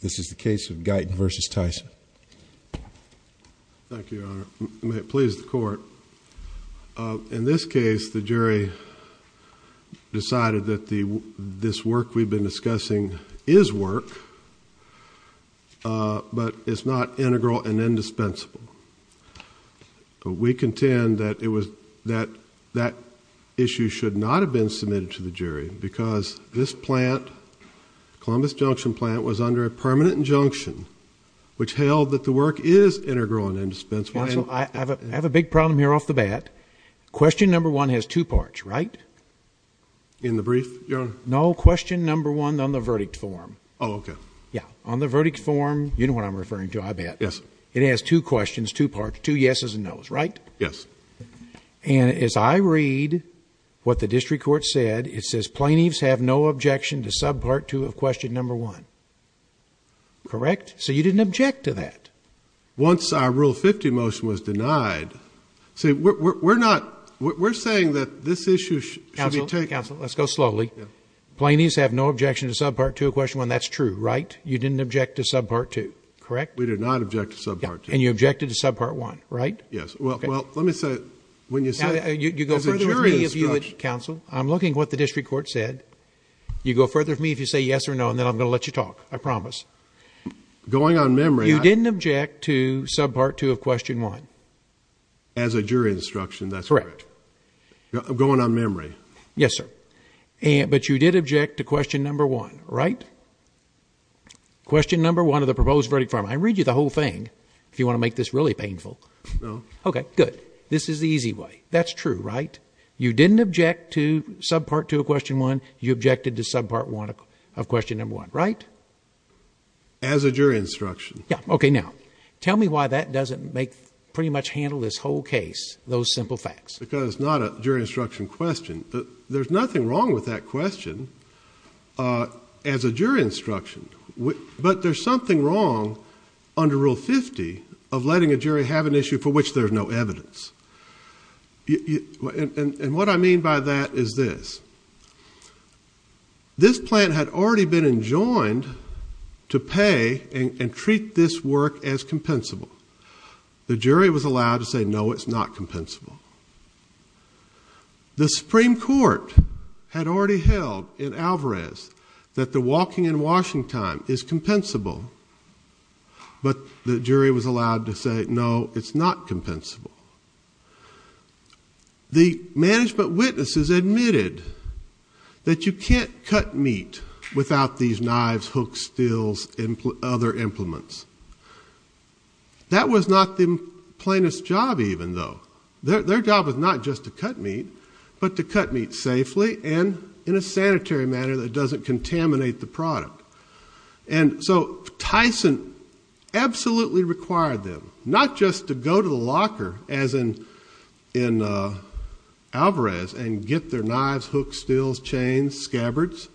This is the case of Guyton v. Tyson. Thank you, Your Honor. May it please the court. In this case the jury decided that the this work we've been discussing is work but it's not integral and indispensable. We contend that it was that that issue should not have been submitted to the jury because this plant, Columbus Junction plant, was under a permanent injunction which held that the work is integral and indispensable. I have a big problem here off the bat. Question number one has two parts, right? In the brief, Your Honor? No, question number one on the verdict form. Oh, okay. Yeah, on the verdict form, you know what I'm referring to, I bet. Yes. It has two questions, two parts, two yeses and nos, right? Yes. And as I read what the district court said, it says plaintiffs have no objection to subpart two of question number one. Correct? So you didn't object to that? Once our Rule 50 motion was denied, see, we're not, we're saying that this issue should be taken. Counsel, let's go slowly. Plaintiffs have no objection to subpart two of question one. That's true, right? You didn't object to subpart two, correct? We did not object to subpart two. And you objected to subpart one, right? Yes. Well, let me say, when you said, as a jury instruction. Counsel, I'm looking at what the district court said. You go further with me if you say yes or no and then I'm going to let you talk. I promise. Going on memory, I. You didn't object to subpart two of question one. As a jury instruction, that's correct. Correct. Going on memory. Yes, sir. But you did object to question number one, right? Question number one of the proposed verdict for him. I read you the whole thing if you want to make this really painful. No. Okay, good. This is the easy way. That's true, right? You didn't object to subpart two of question one. You objected to subpart one of question number one, right? As a jury instruction. Yeah. Okay. Now tell me why that doesn't make pretty much handle this whole case. Those simple facts. Because that's not a jury instruction question. There's nothing wrong with that question, uh, as a jury instruction, but there's something wrong under rule 50 of letting a jury have an issue for which there's no evidence. And what I mean by that is this, this plant had already been enjoined to pay and treat this work as compensable. The jury was allowed to say, no, it's not compensable. The Supreme Court had already held in Alvarez that the walking and washing time is compensable, but the jury was allowed to say, no, it's not compensable. The management witnesses admitted that you can't cut meat without these knives, hooks, steels, and other implements. That was not the plaintiff's job even though. Their job was not just to cut meat, but to cut meat safely and in a sanitary manner that doesn't contaminate the product. And so Tyson absolutely required them not just to go to the locker as in, in, uh, Alvarez and get their knives, hooks, steels, chains, scabbards,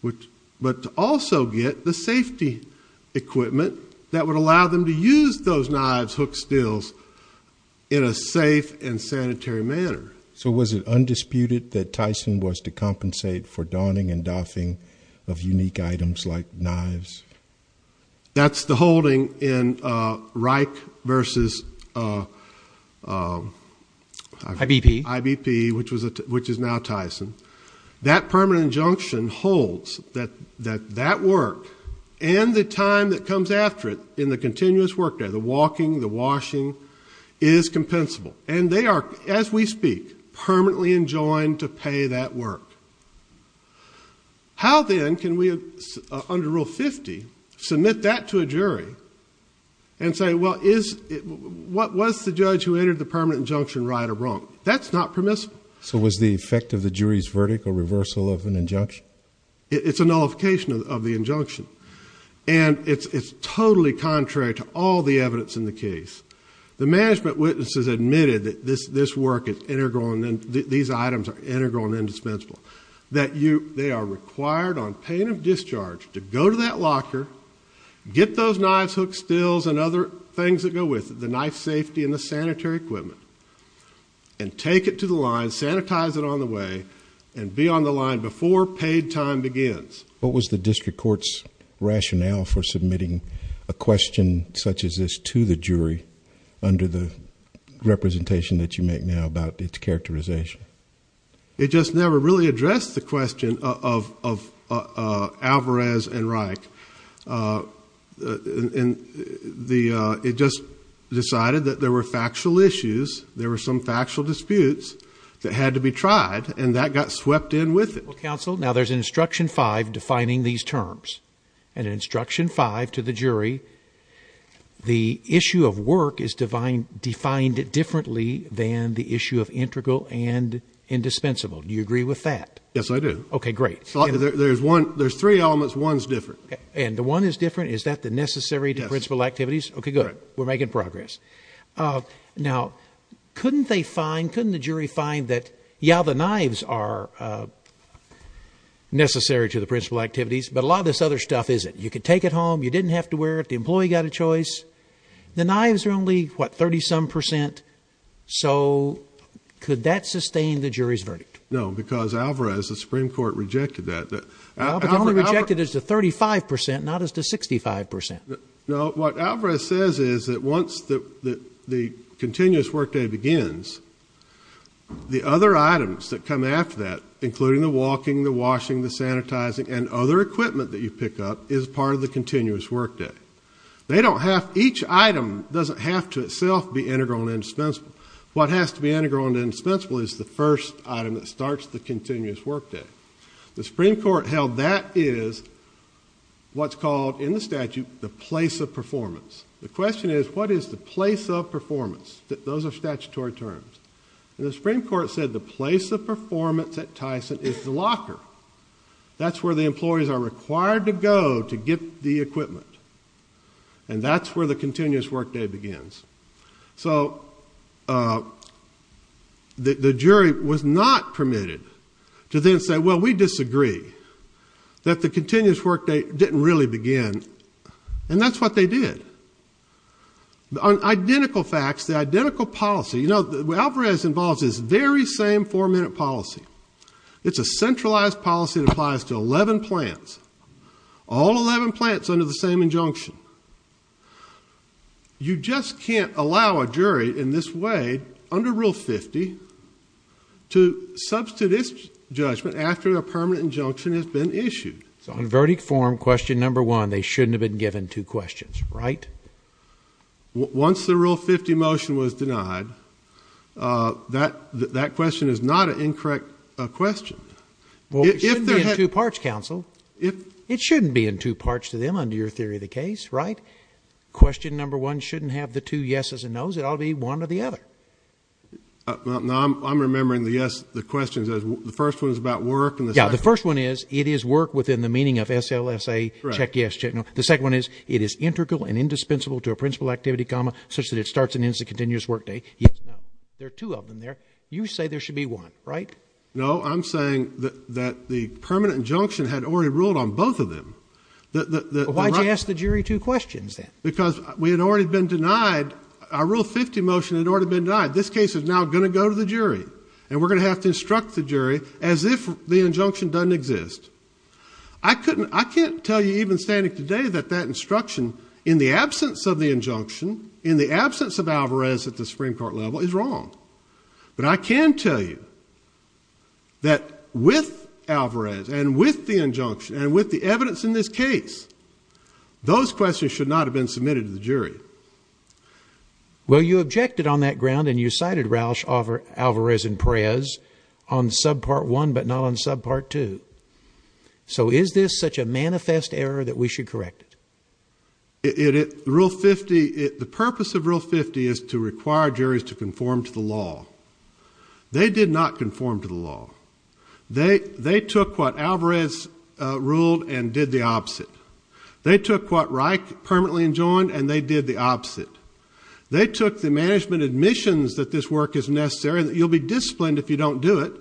which, but also get the safety equipment that would allow them to use those knives, hooks, steels in a safe and sanitary manner. So was it undisputed that Tyson was to compensate for donning and doffing of unique items like knives? That's the holding in, uh, Reich versus, uh, uh, IBP, IBP, which was, which is now Tyson. That permanent injunction holds that, that, that work and the time that comes after it in the continuous work there, the walking, the washing is compensable and they are, as we speak, permanently enjoined to pay that work. How then can we, uh, under rule 50, submit that to a jury and say, well, is it, what was the judge who entered the permanent injunction right or wrong? That's not permissible. So was the effect of the jury's verdict a reversal of an injunction? It's a nullification of the injunction. And it's, it's totally contrary to all the evidence in the case. The management witnesses admitted that this, this work is integral. And then these items are integral and indispensable that you, they are required on pain of discharge to go to that locker, get those knives, hooks, stills, and other things that go with the knife safety and the sanitary equipment and take it to the line, sanitize it on the way and be on the line before paid time begins. What was the district court's rationale for submitting a question such as this to the jury under the representation that you make now about its characterization? It just never really addressed the question of, of, uh, Alvarez and Reich. Uh, and the, it just decided that there were factual issues. There were some factual disputes that had to be tried and that got swept in with it. Council. Now there's an instruction five defining these terms and instruction five to the jury. The issue of work is divine, defined differently than the issue of integral and indispensable. Do you agree with that? Yes, I do. Okay, great. There's one, there's three elements. One's different and the one is different. Is that the necessary to principal activities? Okay, good. We're making progress. Uh, now couldn't they find, couldn't the jury find that? Yeah, the knives are, uh, necessary to the principal activities, but a lot of this other stuff isn't. You could take it home. You didn't have to wear it. The employee got a choice. The knives are only what, 30 some percent. So could that sustain the jury's verdict? No, because Alvarez, the Supreme court rejected that only rejected as the 35% not as to 65%. No, what Alvarez says is that once the, the, the, the, the other items that come after that, including the walking, the washing, the sanitizing and other equipment that you pick up is part of the continuous work day. They don't have, each item doesn't have to itself be integral and indispensable. What has to be integral and indispensable is the first item that starts the continuous work day. The Supreme court held that is what's called in the statute, the place of performance. The question is what is the place of performance that those are statutory terms. And the Supreme court said the place of performance at Tyson is the locker. That's where the employees are required to go to get the equipment. And that's where the continuous work day begins. So, uh, the, the jury was not permitted to then say, well, we disagree that the continuous work date didn't really begin. And that's what they did. The identical facts, the identical policy, you know, Alvarez involves is very same four minute policy. It's a centralized policy that applies to 11 plants, all 11 plants under the same injunction. You just can't allow a jury in this way under rule 50 to substitute this judgment after their permanent injunction has been issued. So in verdict form, question number one, they shouldn't have been given two questions, right? Once the rule 50 motion was denied, uh, that, that question is not an incorrect question. Well, it shouldn't be in two parts counsel. It shouldn't be in two parts to them under your theory of the case, right? Question number one, shouldn't have the two yeses and nos. It all be one or the other. Now I'm remembering the yes, the questions as the first one is about work. And the first one is it is work within the meaning of SLS a check. Yes. Check. No. The second one is it is integral and indispensable to a principal activity, such that it starts and ends the continuous work day. There are two of them there. You say there should be one, right? No, I'm saying that the permanent injunction had already ruled on both of them. Why'd you ask the jury two questions then? Because we had already been denied. I rule 50 motion had already been died. This case is now going to go to the jury and we're going to have to instruct the jury as if the injunction doesn't exist. I couldn't, I can't tell you even standing today that that instruction in the absence of the injunction in the absence of Alvarez at the Supreme court level is wrong. But I can tell you that with Alvarez and with the injunction and with the evidence in this case, those questions should not have been submitted to the jury. Well, you objected on that ground and you cited Roush offer Alvarez and prayers on sub part one, but not on sub part two. So is this such a manifest error that we should correct it? It, it rule 50 it, the purpose of real 50 is to require juries to conform to the law. They did not conform to the law. They, they took what Alvarez, uh, ruled and did the opposite. They took what Reich permanently enjoined and they did the opposite. They took the management admissions that this work is necessary that you'll be disciplined if you don't do it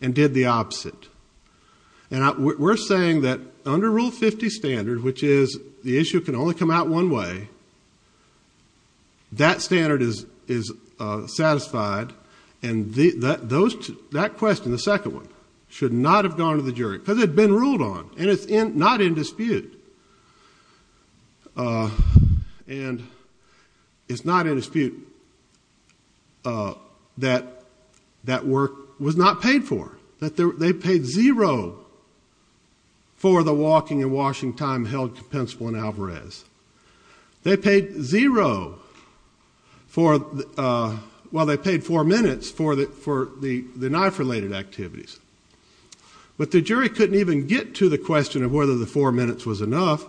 and did the opposite. And we're saying that under rule 50 standard, which is the issue can only come out one way. That standard is, is, uh, satisfied. And the, that, those, that question, the second one should not have gone to the jury because it'd been ruled on and it's in not in dispute. Uh, and it's not in dispute, uh, that that work was not paid for that. They paid zero for the walking and washing time held compensable in Alvarez. They paid zero for, uh, while they paid four minutes for the, for the, the knife related activities. But the jury couldn't even get to the question of whether the four minutes was enough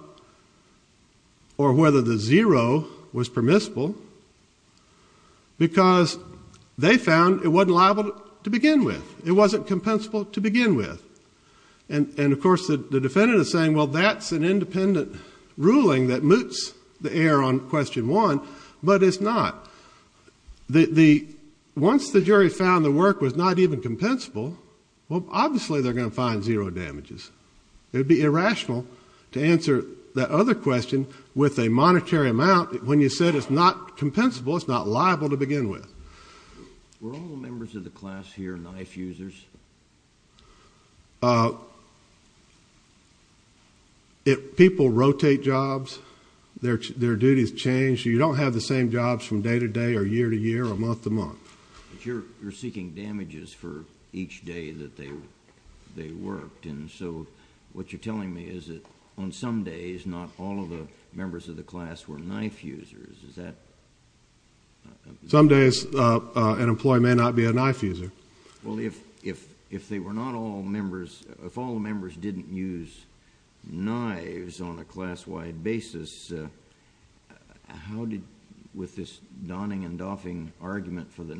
or whether the zero was permissible because they found it wasn't liable to begin with. It wasn't compensable to begin with. And, and of course the defendant is saying, well, that's an independent ruling that moots the air on question one, but it's not the, the, once the jury found the work was not even compensable, well obviously they're going to find zero damages. It would be irrational to answer that other question with a monetary amount when you said it's not compensable, it's not liable to begin with. Were all the members of the class here knife users? Uh, people rotate jobs. Their, their duties change. You don't have the same jobs from the beginning. But you're, you're seeking damages for each day that they, they worked. And so what you're telling me is that on some days, not all of the members of the class were knife users. Is that... Some days, uh, uh, an employee may not be a knife user. Well, if, if, if they were not all members, if all the members didn't use knives on a day, uh, if all the members of the class weren't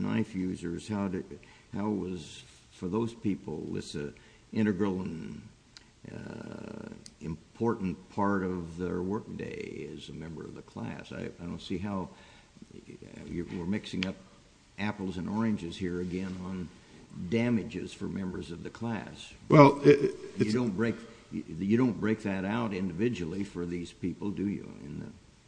knife users, how, how was for those people, was it integral and, uh, important part of their workday as a member of the class? I, I don't see how, you're mixing up apples and oranges here again on damages for members of the class. Well, it... You don't break, you don't break that out individually for these people, do you?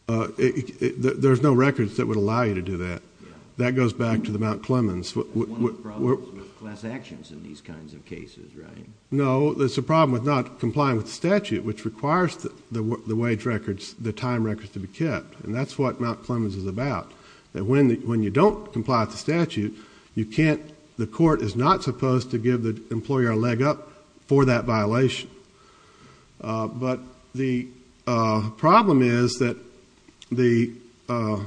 Uh, it, it, it, there's no records that would allow you to do that. Yeah. That goes back to the Mount Clemens. One of the problems with class actions in these kinds of cases, right? No, there's a problem with not complying with the statute, which requires the, the, the wage records, the time records to be kept. And that's what Mount Clemens is about. That when the, when you don't comply with the statute, you can't, the court is not supposed to give the employer a leg up for that violation. Uh, but the, uh, problem is that the, uh,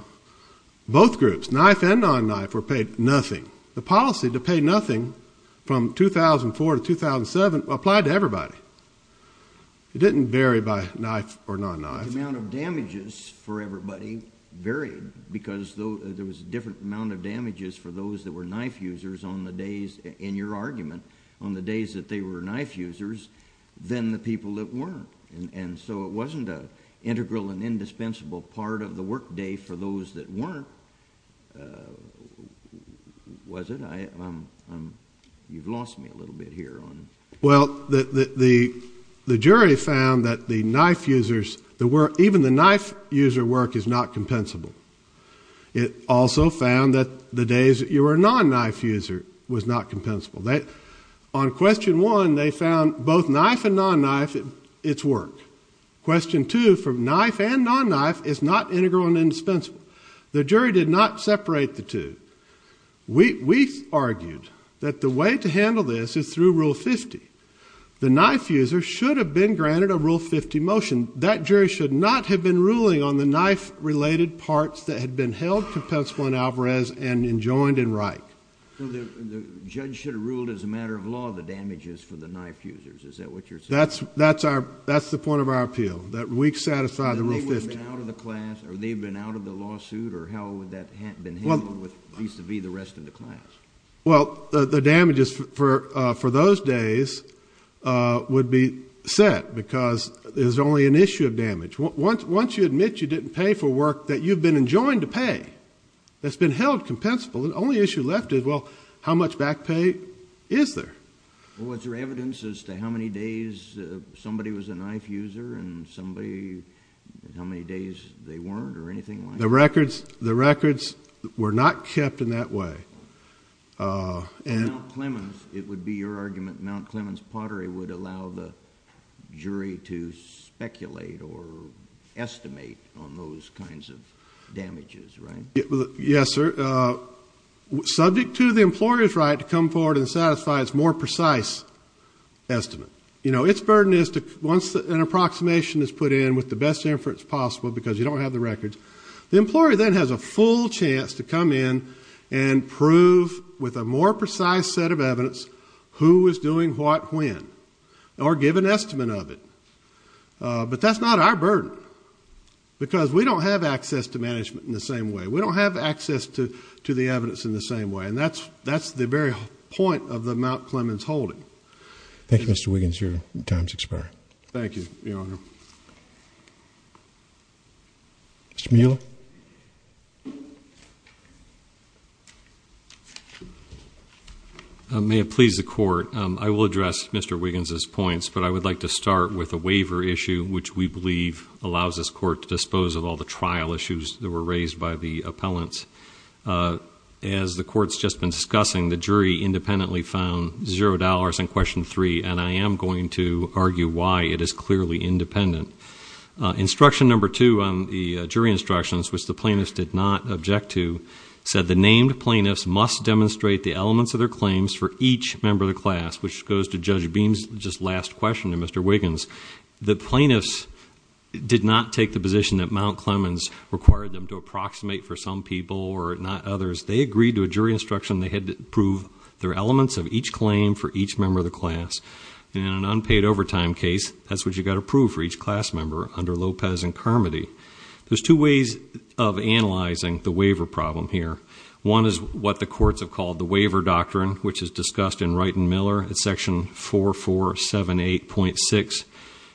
both groups, knife and non-knife, were paid nothing. The policy to pay nothing from 2004 to 2007 applied to everybody. It didn't vary by knife or non-knife. The amount of damages for everybody varied because there was a different amount of damages for those that were knife users on the days, in your argument, on the days that they were knife users than the people that weren't. And, and so it wasn't an integral and indispensable part of the workday for those that weren't. Uh, was it? I, I'm, I'm, you've lost me a little bit here on. Well, the, the, the, the jury found that the knife users, the work, even the knife user work is not compensable. It also found that the days that you were a non-knife user was not compensable. They, on question one, they found both knife and non-knife, it's work. Question two, for knife and non-knife, is not integral and indispensable. The jury did not separate the two. We, we argued that the way to handle this is through Rule 50. The knife user should have been granted a Rule 50 motion. That jury should not have been ruling on the knife-related parts that had been held compensable in Alvarez and enjoined in Wright. So the, the judge should have ruled as a matter of law the damages for the knife users. Is that what you're saying? That's, that's our, that's the point of our appeal, that we satisfy the Rule 50. And they would have been out of the class, or they've been out of the lawsuit, or how would that have been handled with vis-a-vis the rest of the class? Well, the, the damages for, for those days would be set because there's only an issue of damage. Once, once you admit you didn't pay for work that you've been enjoined to pay, that's been held compensable, the only issue left is, well, how much back pay is there? Was there evidence as to how many days somebody was a knife user and somebody, how many days they weren't, or anything like that? The records, the records were not kept in that way. And Mount Clemens, it would be your argument, Mount Clemens Pottery would allow the jury to speculate or estimate on those kinds of damages, right? Yes, sir. Subject to the employer's right to come forward and satisfy its more precise estimate. You know, its burden is to, once an approximation is put in with the best inference possible, because you don't have the records, the employer then has a full chance to come in and prove with a more precise set of evidence who was doing what when, or give an estimate of it. But that's not our burden, because we don't have access to management in the same way. We don't have access to the evidence in the same way, and that's the very point of the Mount Clemens holding. Thank you, Mr. Wiggins, your time has expired. Thank you, Your Honor. Mr. Mueller? May it please the Court, I will address Mr. Wiggins' points, but I would like to start with a waiver issue, which we believe allows this Court to dispose of all the trial issues that were raised by the appellants. As the Court's just been discussing, the jury independently found $0 in question three, and I am going to argue why it is clearly independent. Instruction number two on the jury instructions, which the plaintiffs did not object to, said the named plaintiffs must demonstrate the elements of their claims for each member of the class, which goes to Judge Beam's just last question to Mr. Wiggins. The plaintiffs did not take the position that Mount Clemens required them to approximate for some people or not others. They agreed to a jury instruction they had to prove their elements of each claim for each member of the class. In an unpaid overtime case, that's what you've got to prove for each class member under Lopez and Carmody. There's two ways of analyzing the waiver problem here. One is what the courts have called the waiver doctrine, which is discussed in Wright and Miller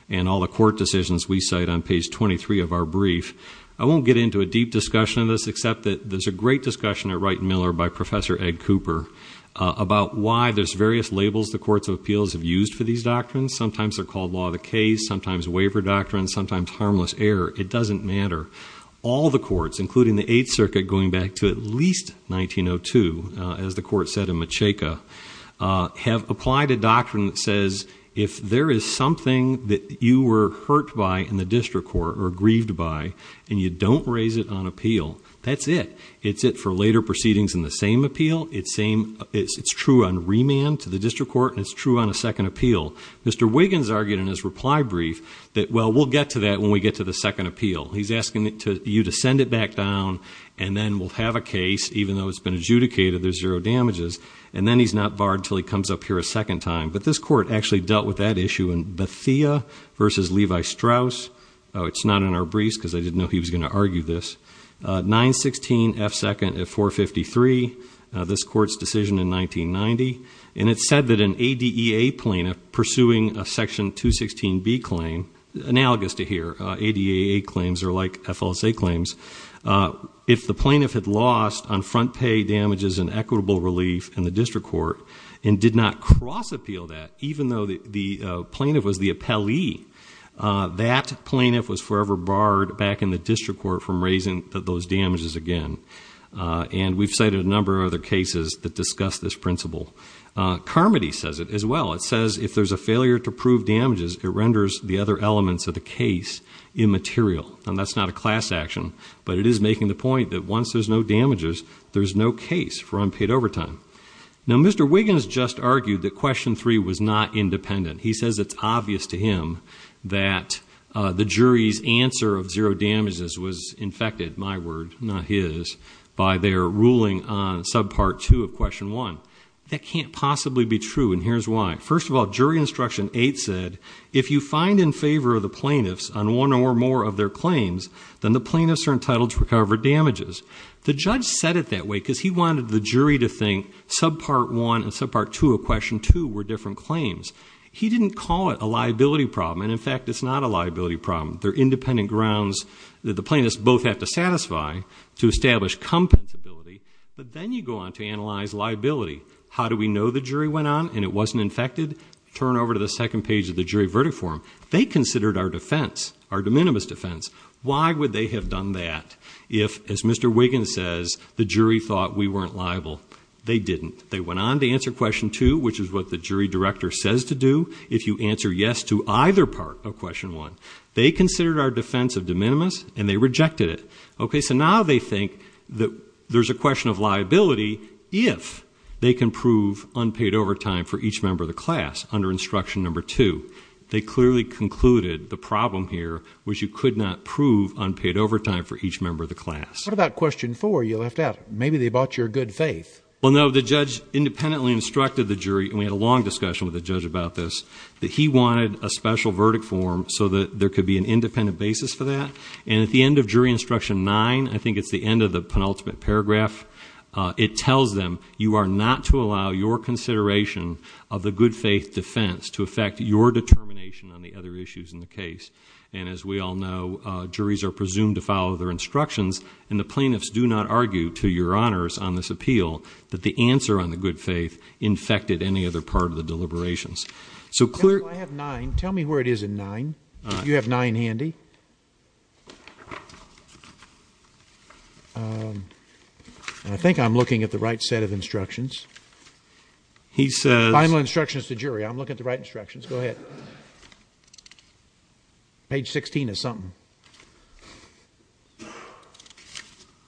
and all the court decisions we cite on page 23 of our brief. I won't get into a deep discussion of this, except that there's a great discussion at Wright and Miller by Professor Ed Cooper about why there's various labels the courts of appeals have used for these doctrines. Sometimes they're called Law of the Case, sometimes Waiver Doctrine, sometimes Harmless Error. It doesn't matter. All the courts, including the Eighth Circuit going back to at least 1902, as the court said in Mucheika, have applied a doctrine that says if there is something that you were hurt by in the district court or grieved by, and you don't raise it on appeal, that's it. It's it for later proceedings in the same appeal. It's true on remand to the district court, and it's true on a second appeal. Mr. Wiggins argued in his reply brief that, well, we'll get to that when we get to the second appeal. He's asking you to send it back down, and then we'll have a case. Even though it's been adjudicated, there's zero damages. And then he's not barred until he comes up here a second time. But this court actually dealt with that issue in Bathia v. Levi-Strauss. It's not in our briefs, because I didn't know he was going to argue this. 916 F. 2nd at 453, this court's decision in 1990, and it said that an ADEA plaintiff pursuing a Section 216B claim, analogous to here, ADEA claims are like FLSA claims, if the plaintiff had lost on front pay damages and equitable relief in the district court, and did not cross-appeal that, even though the plaintiff was the appellee, that plaintiff was forever barred back in the district court from raising those damages again. And we've cited a number of other cases that discuss this principle. Carmody says it as well. It says if there's a failure to prove damages, it renders the other elements of the case immaterial. And that's not a class action, but it is making the point that once there's no damages, there's no case for unpaid overtime. Now Mr. Wiggins just argued that Question 3 was not independent. He says it's obvious to him that the jury's answer of zero damages was infected, my word, not his, by their ruling on Subpart 2 of Question 1. That can't possibly be true, and here's why. First of all, Jury Instruction 8 said, if you find in favor of the plaintiffs on one or more of their claims, then the plaintiffs are entitled to recover damages. The judge said it that way because he wanted the jury to think Subpart 1 and Subpart 2 of Question 2 were different claims. He didn't call it a liability problem, and in fact, it's not a liability problem. They're independent grounds that the plaintiffs both have to satisfy to establish compensability. But then you go on to analyze liability. How do we know the jury went on and it wasn't infected? Turn over to the second page of the jury verdict form. They considered our defense, our de minimis defense. Why would they have done that if, as Mr. Wiggins says, the jury thought we weren't liable? They didn't. They went on to answer Question 2, which is what the jury director says to do if you answer yes to either part of Question 1. They considered our defense of de minimis, and they rejected it. Okay, so now they think that there's a question of liability if they can prove unpaid overtime for each member of the class under Instruction Number 2. They clearly concluded the problem here was you could not prove unpaid overtime for each member of the class. What about Question 4 you left out? Maybe they bought your good faith. Well, no. The judge independently instructed the jury, and we had a long discussion with the judge about this, that he wanted a special verdict form so that there could be an independent basis for that. And at the end of Jury Instruction 9, I think it's the end of the penultimate paragraph, it tells them, you are not to allow your consideration of the good faith defense to affect your determination on the other issues in the case. And as we all know, juries are presumed to follow their instructions, and the plaintiffs do not argue, to your honors on this appeal, that the answer on the good faith infected any other part of the deliberations. So clear... I have 9. Tell me where it is in 9. You have 9 handy. And I think I'm looking at the right set of instructions. He says... Final instructions to jury. I'm looking at the right instructions. Go ahead. Page 16 is something.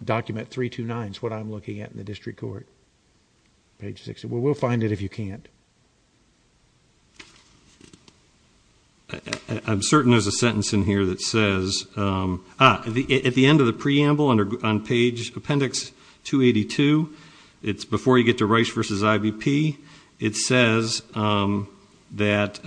Document 329 is what I'm looking at in the district court. Page 16. We'll find it if you can't. I'm certain there's a sentence in here that says... At the end of the preamble on page appendix 282, it's before you get to Rice v. IBP, it says that...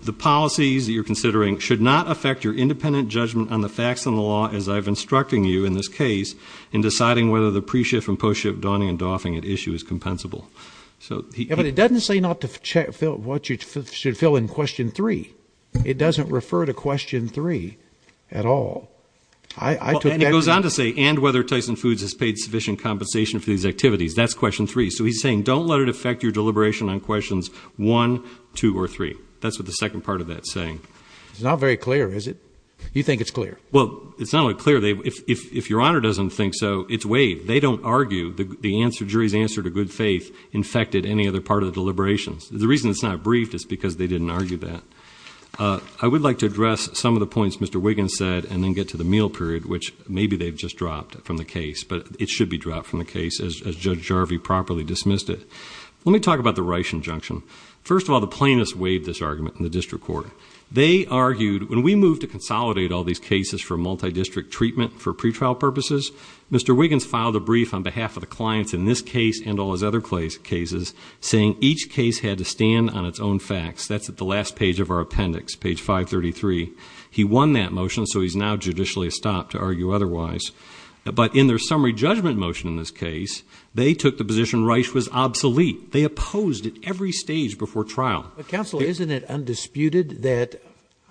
The policies you're considering should not affect your independent judgment on the facts in the law as I've instructed you in this case in deciding whether the pre-shift and post-shift dawning and doffing at issue is compensable. So he... But it doesn't say not to check what you should fill in question 3. It doesn't refer to question 3 at all. I took that... It goes on to say... And whether Tyson Foods has paid sufficient compensation for these activities. That's question 3. So he's saying don't let it affect your deliberation on questions 1, 2, or 3. That's what the second part of that's saying. It's not very clear, is it? You think it's clear. Well, it's not only clear. If your honor doesn't think so, it's waived. They don't argue the jury's answer to good faith infected any other part of the deliberations. The reason it's not briefed is because they didn't argue that. I would like to address some of the points Mr. Wiggins said and then get to the meal period which maybe they've just dropped from the case. But it should be dropped from the case as Judge Jarvie properly dismissed it. Let me talk about the Reich injunction. First of all, the plaintiffs waived this argument in the district court. They argued... When we moved to consolidate all these cases for multi-district treatment for pretrial purposes, Mr. Wiggins filed a brief on behalf of the clients in this case and all his other cases saying each case had to stand on its own facts. That's at the last page of our appendix, page 533. He won that motion, so he's now judicially stopped to argue otherwise. But in their summary judgment motion in this case, they took the position Reich was obsolete. They opposed it every stage before trial. Counsel, isn't it undisputed that...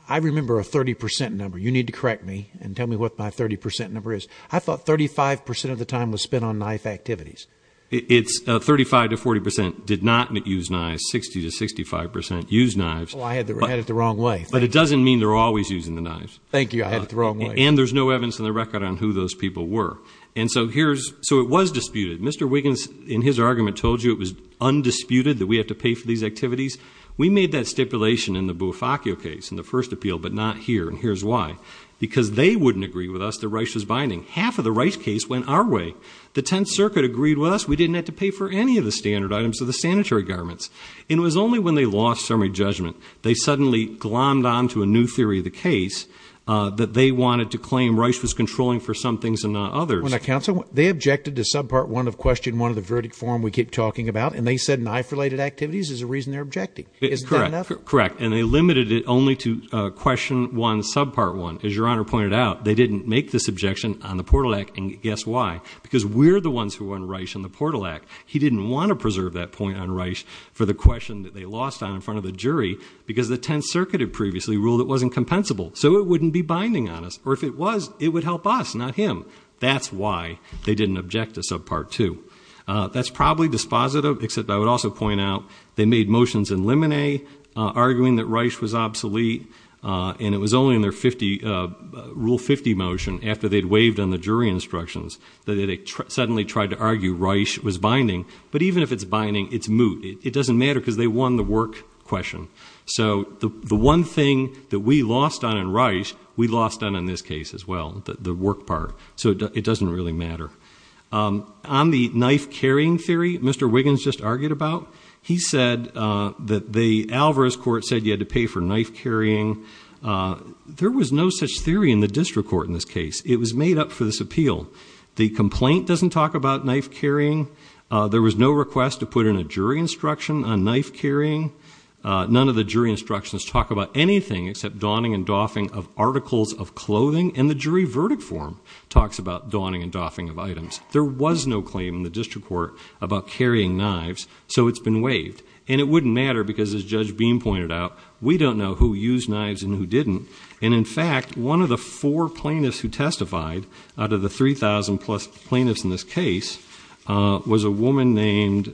I remember a 30% number. You need to correct me and tell me what my 30% number is. I thought 35% of the time was spent on knife activities. It's 35 to 40% did not use knives, 60 to 65% used knives. I had it the wrong way. But it doesn't mean they're always using the knives. Thank you. I had it the wrong way. And there's no evidence in the record on who those people were. And so here's... So it was disputed. Mr. Wiggins in his argument told you it was undisputed that we have to pay for these activities. We made that stipulation in the Bufaccio case, in the first appeal, but not here. And here's why. Because they wouldn't agree with us that Reich was binding. Half of the Reich case went our way. The Tenth Circuit agreed with us. We didn't have to pay for any of the standard items of the sanitary garments. And it was only when they lost summary judgment, they suddenly glommed on to a new theory of the case, that they wanted to claim Reich was controlling for some things and not others. Well, now, counsel, they objected to subpart one of question one of the verdict form we keep talking about. And they said knife-related activities is the reason they're objecting. Is that enough? Correct. Correct. And they limited it only to question one, subpart one. As Your Honor pointed out, they didn't make this objection on the Portal Act. And guess why? Because we're the ones who won Reich in the Portal Act. He didn't want to preserve that point on Reich for the question that they lost on in front of the jury, because the Tenth Circuit had previously ruled it wasn't compensable. So it wouldn't be binding on us. Or if it was, it would help us, not him. That's why they didn't object to subpart two. That's probably dispositive, except I would also point out, they made motions in limine, arguing that Reich was obsolete, and it was only in their Rule 50 motion, after they'd waived on the jury instructions, that they suddenly tried to argue Reich was binding. But even if it's binding, it's moot. It doesn't matter, because they won the work question. So the one thing that we lost on in Reich, we lost on in this case as well, the work part. So it doesn't really matter. On the knife-carrying theory Mr. Wiggins just argued about, he said that the Alvarez court said you had to pay for knife-carrying. There was no such theory in the district court in this case. It was made up for this appeal. The complaint doesn't talk about knife-carrying. There was no request to put in a jury instruction on knife-carrying. None of the jury instructions talk about anything except donning and doffing of articles of clothing, and the jury verdict form talks about donning and doffing of items. There was no claim in the district court about carrying knives, so it's been waived. And it wouldn't matter, because as Judge Beam pointed out, we don't know who used knives and who didn't. And in fact, one of the four plaintiffs who testified, out of the 3,000-plus plaintiffs in this case, was a woman named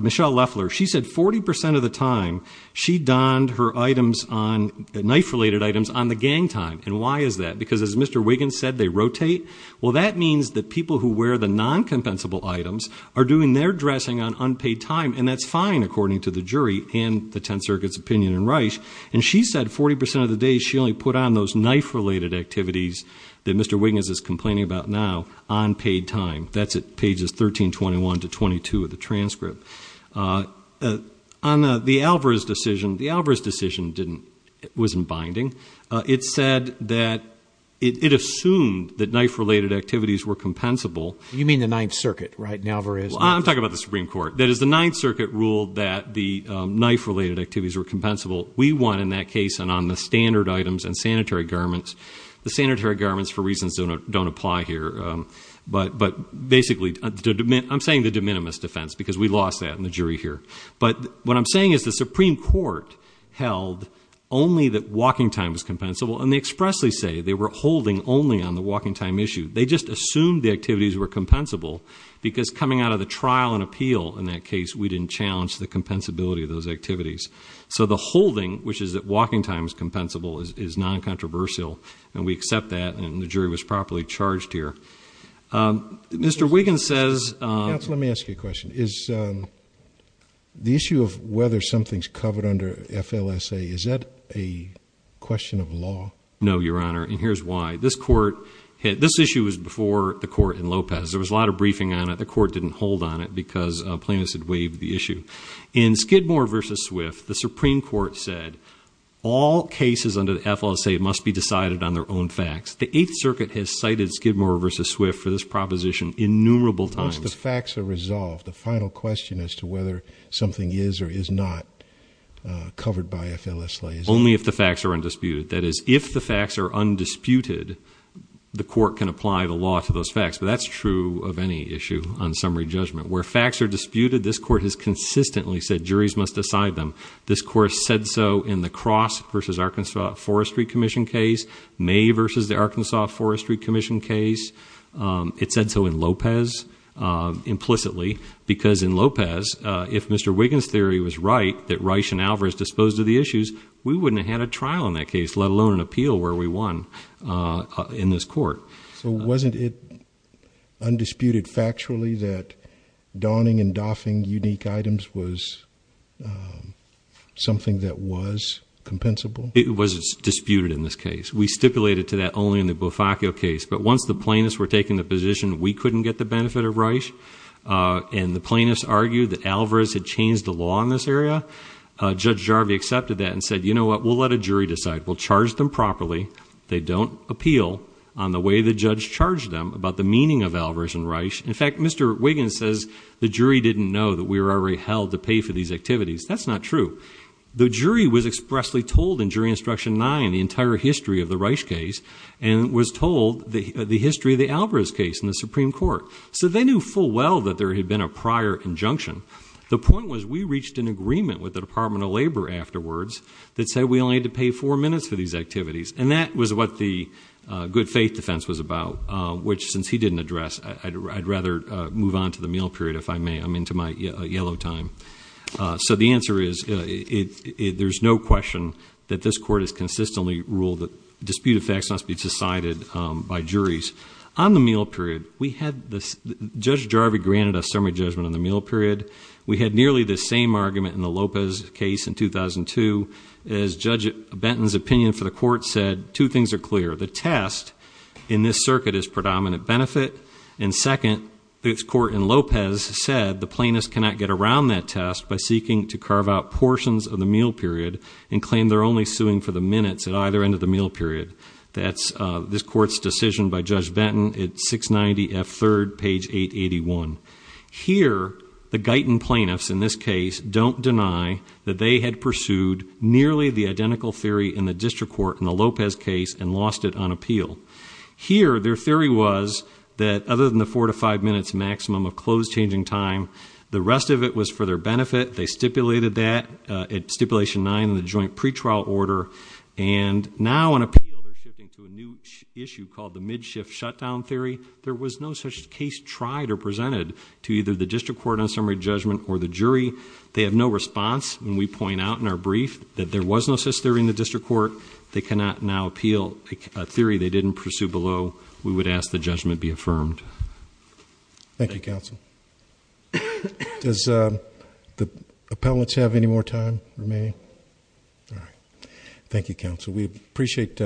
Michelle Leffler. She said 40% of the time she donned her knife-related items on the gang time. And why is that? Because as Mr. Wiggins said, they rotate. Well, that means that people who wear the non-compensable items are doing their dressing on unpaid time, and that's fine, according to the jury and the Tenth Circuit's opinion in Reich. And she said 40% of the day, she only put on those knife-related activities that Mr. Wiggins is complaining about now on paid time. That's at pages 1321 to 1322 of the transcript. On the Alvarez decision, the Alvarez decision wasn't binding. It said that it assumed that knife-related activities were compensable. You mean the Ninth Circuit, right? And Alvarez? Well, I'm talking about the Supreme Court. That is, the Ninth Circuit ruled that the knife-related activities were compensable. We won in that case, and on the standard items and sanitary garments. The sanitary garments, for reasons that don't apply here, but basically, I'm saying the de minimis defense, because we lost that in the jury here. But what I'm saying is the Supreme Court held only that walking time was compensable, and they expressly say they were holding only on the walking time issue. They just assumed the activities were compensable, because coming out of the trial and appeal in that case, we didn't challenge the compensability of those activities. So the holding, which is that walking time is compensable, is non-controversial, and we accept that, and the jury was properly charged here. Mr. Wiggins says— Counsel, let me ask you a question. The issue of whether something's covered under FLSA, is that a question of law? No, Your Honor, and here's why. This issue was before the court in Lopez. There was a lot of briefing on it. The court didn't hold on it, because plaintiffs had waived the issue. In Skidmore v. Swift, the Supreme Court said all cases under the FLSA must be decided on their own facts. The Eighth Circuit has cited Skidmore v. Swift for this proposition innumerable times. Once the facts are resolved, the final question as to whether something is or is not covered by FLSA is— Only if the facts are undisputed. That is, if the facts are undisputed, the court can apply the law to those facts, but that's true of any issue on summary judgment. Where facts are disputed, this court has consistently said juries must decide them. This court said so in the Cross v. Arkansas Forestry Commission case, May v. the Arkansas Forestry Commission case. It said so in Lopez implicitly, because in Lopez, if Mr. Wiggins' theory was right, that Reich and Alvarez disposed of the issues, we wouldn't have had a trial in that case, let alone an appeal where we won in this court. So wasn't it undisputed factually that donning and doffing unique items was something that was compensable? It was disputed in this case. We stipulated to that only in the Bufaco case, but once the plaintiffs were taking the position we couldn't get the benefit of Reich, and the plaintiffs argued that Alvarez had changed the law in this area. Judge Jarvie accepted that and said, you know what, we'll let a jury decide. We'll charge them properly. They don't appeal on the way the judge charged them about the meaning of Alvarez and Reich. In fact, Mr. Wiggins says the jury didn't know that we were already held to pay for these activities. That's not true. The jury was expressly told in Jury Instruction 9 the entire history of the Reich case, and was told the history of the Alvarez case in the Supreme Court. So they knew full well that there had been a prior injunction. The point was we reached an agreement with the Department of Labor afterwards that said we only had to pay four minutes for these activities, and that was what the good faith defense was about, which since he didn't address I'd rather move on to the meal period if I may. I'm into my yellow time. So the answer is there's no question that this court has consistently ruled that disputed facts must be decided by juries. On the meal period, Judge Jarvie granted a summary judgment on the meal period. We had nearly the same argument in the Lopez case in 2002, as Judge Benton's opinion for the court said two things are clear. The test in this circuit is predominant benefit, and second, this court in Lopez said the plaintiffs cannot get around that test by seeking to carve out portions of the meal period and claim they're only suing for the minutes at either end of the meal period. That's this court's decision by Judge Benton at 690 F. 3rd, page 881. Here the Guyton plaintiffs in this case don't deny that they had pursued nearly the identical theory in the district court in the Lopez case and lost it on appeal. Here their theory was that other than the four to five minutes maximum of closed changing time, the rest of it was for their benefit. They stipulated that at stipulation nine in the joint pretrial order. And now on appeal, they're shifting to a new issue called the mid-shift shutdown theory. There was no such case tried or presented to either the district court on summary judgment or the jury. They have no response. And we point out in our brief that there was no such theory in the district court. They cannot now appeal a theory they didn't pursue below. We would ask the judgment be affirmed. Thank you, counsel. Does the appellants have any more time remaining? All right. Thank you, counsel. We appreciate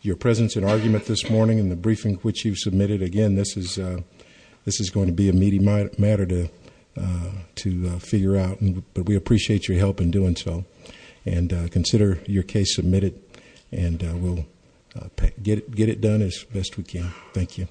your presence and argument this morning and the briefing which you submitted. Again, this is going to be a meaty matter to figure out, but we appreciate your help in doing so. And consider your case submitted, and we'll get it done as best we can. Thank you.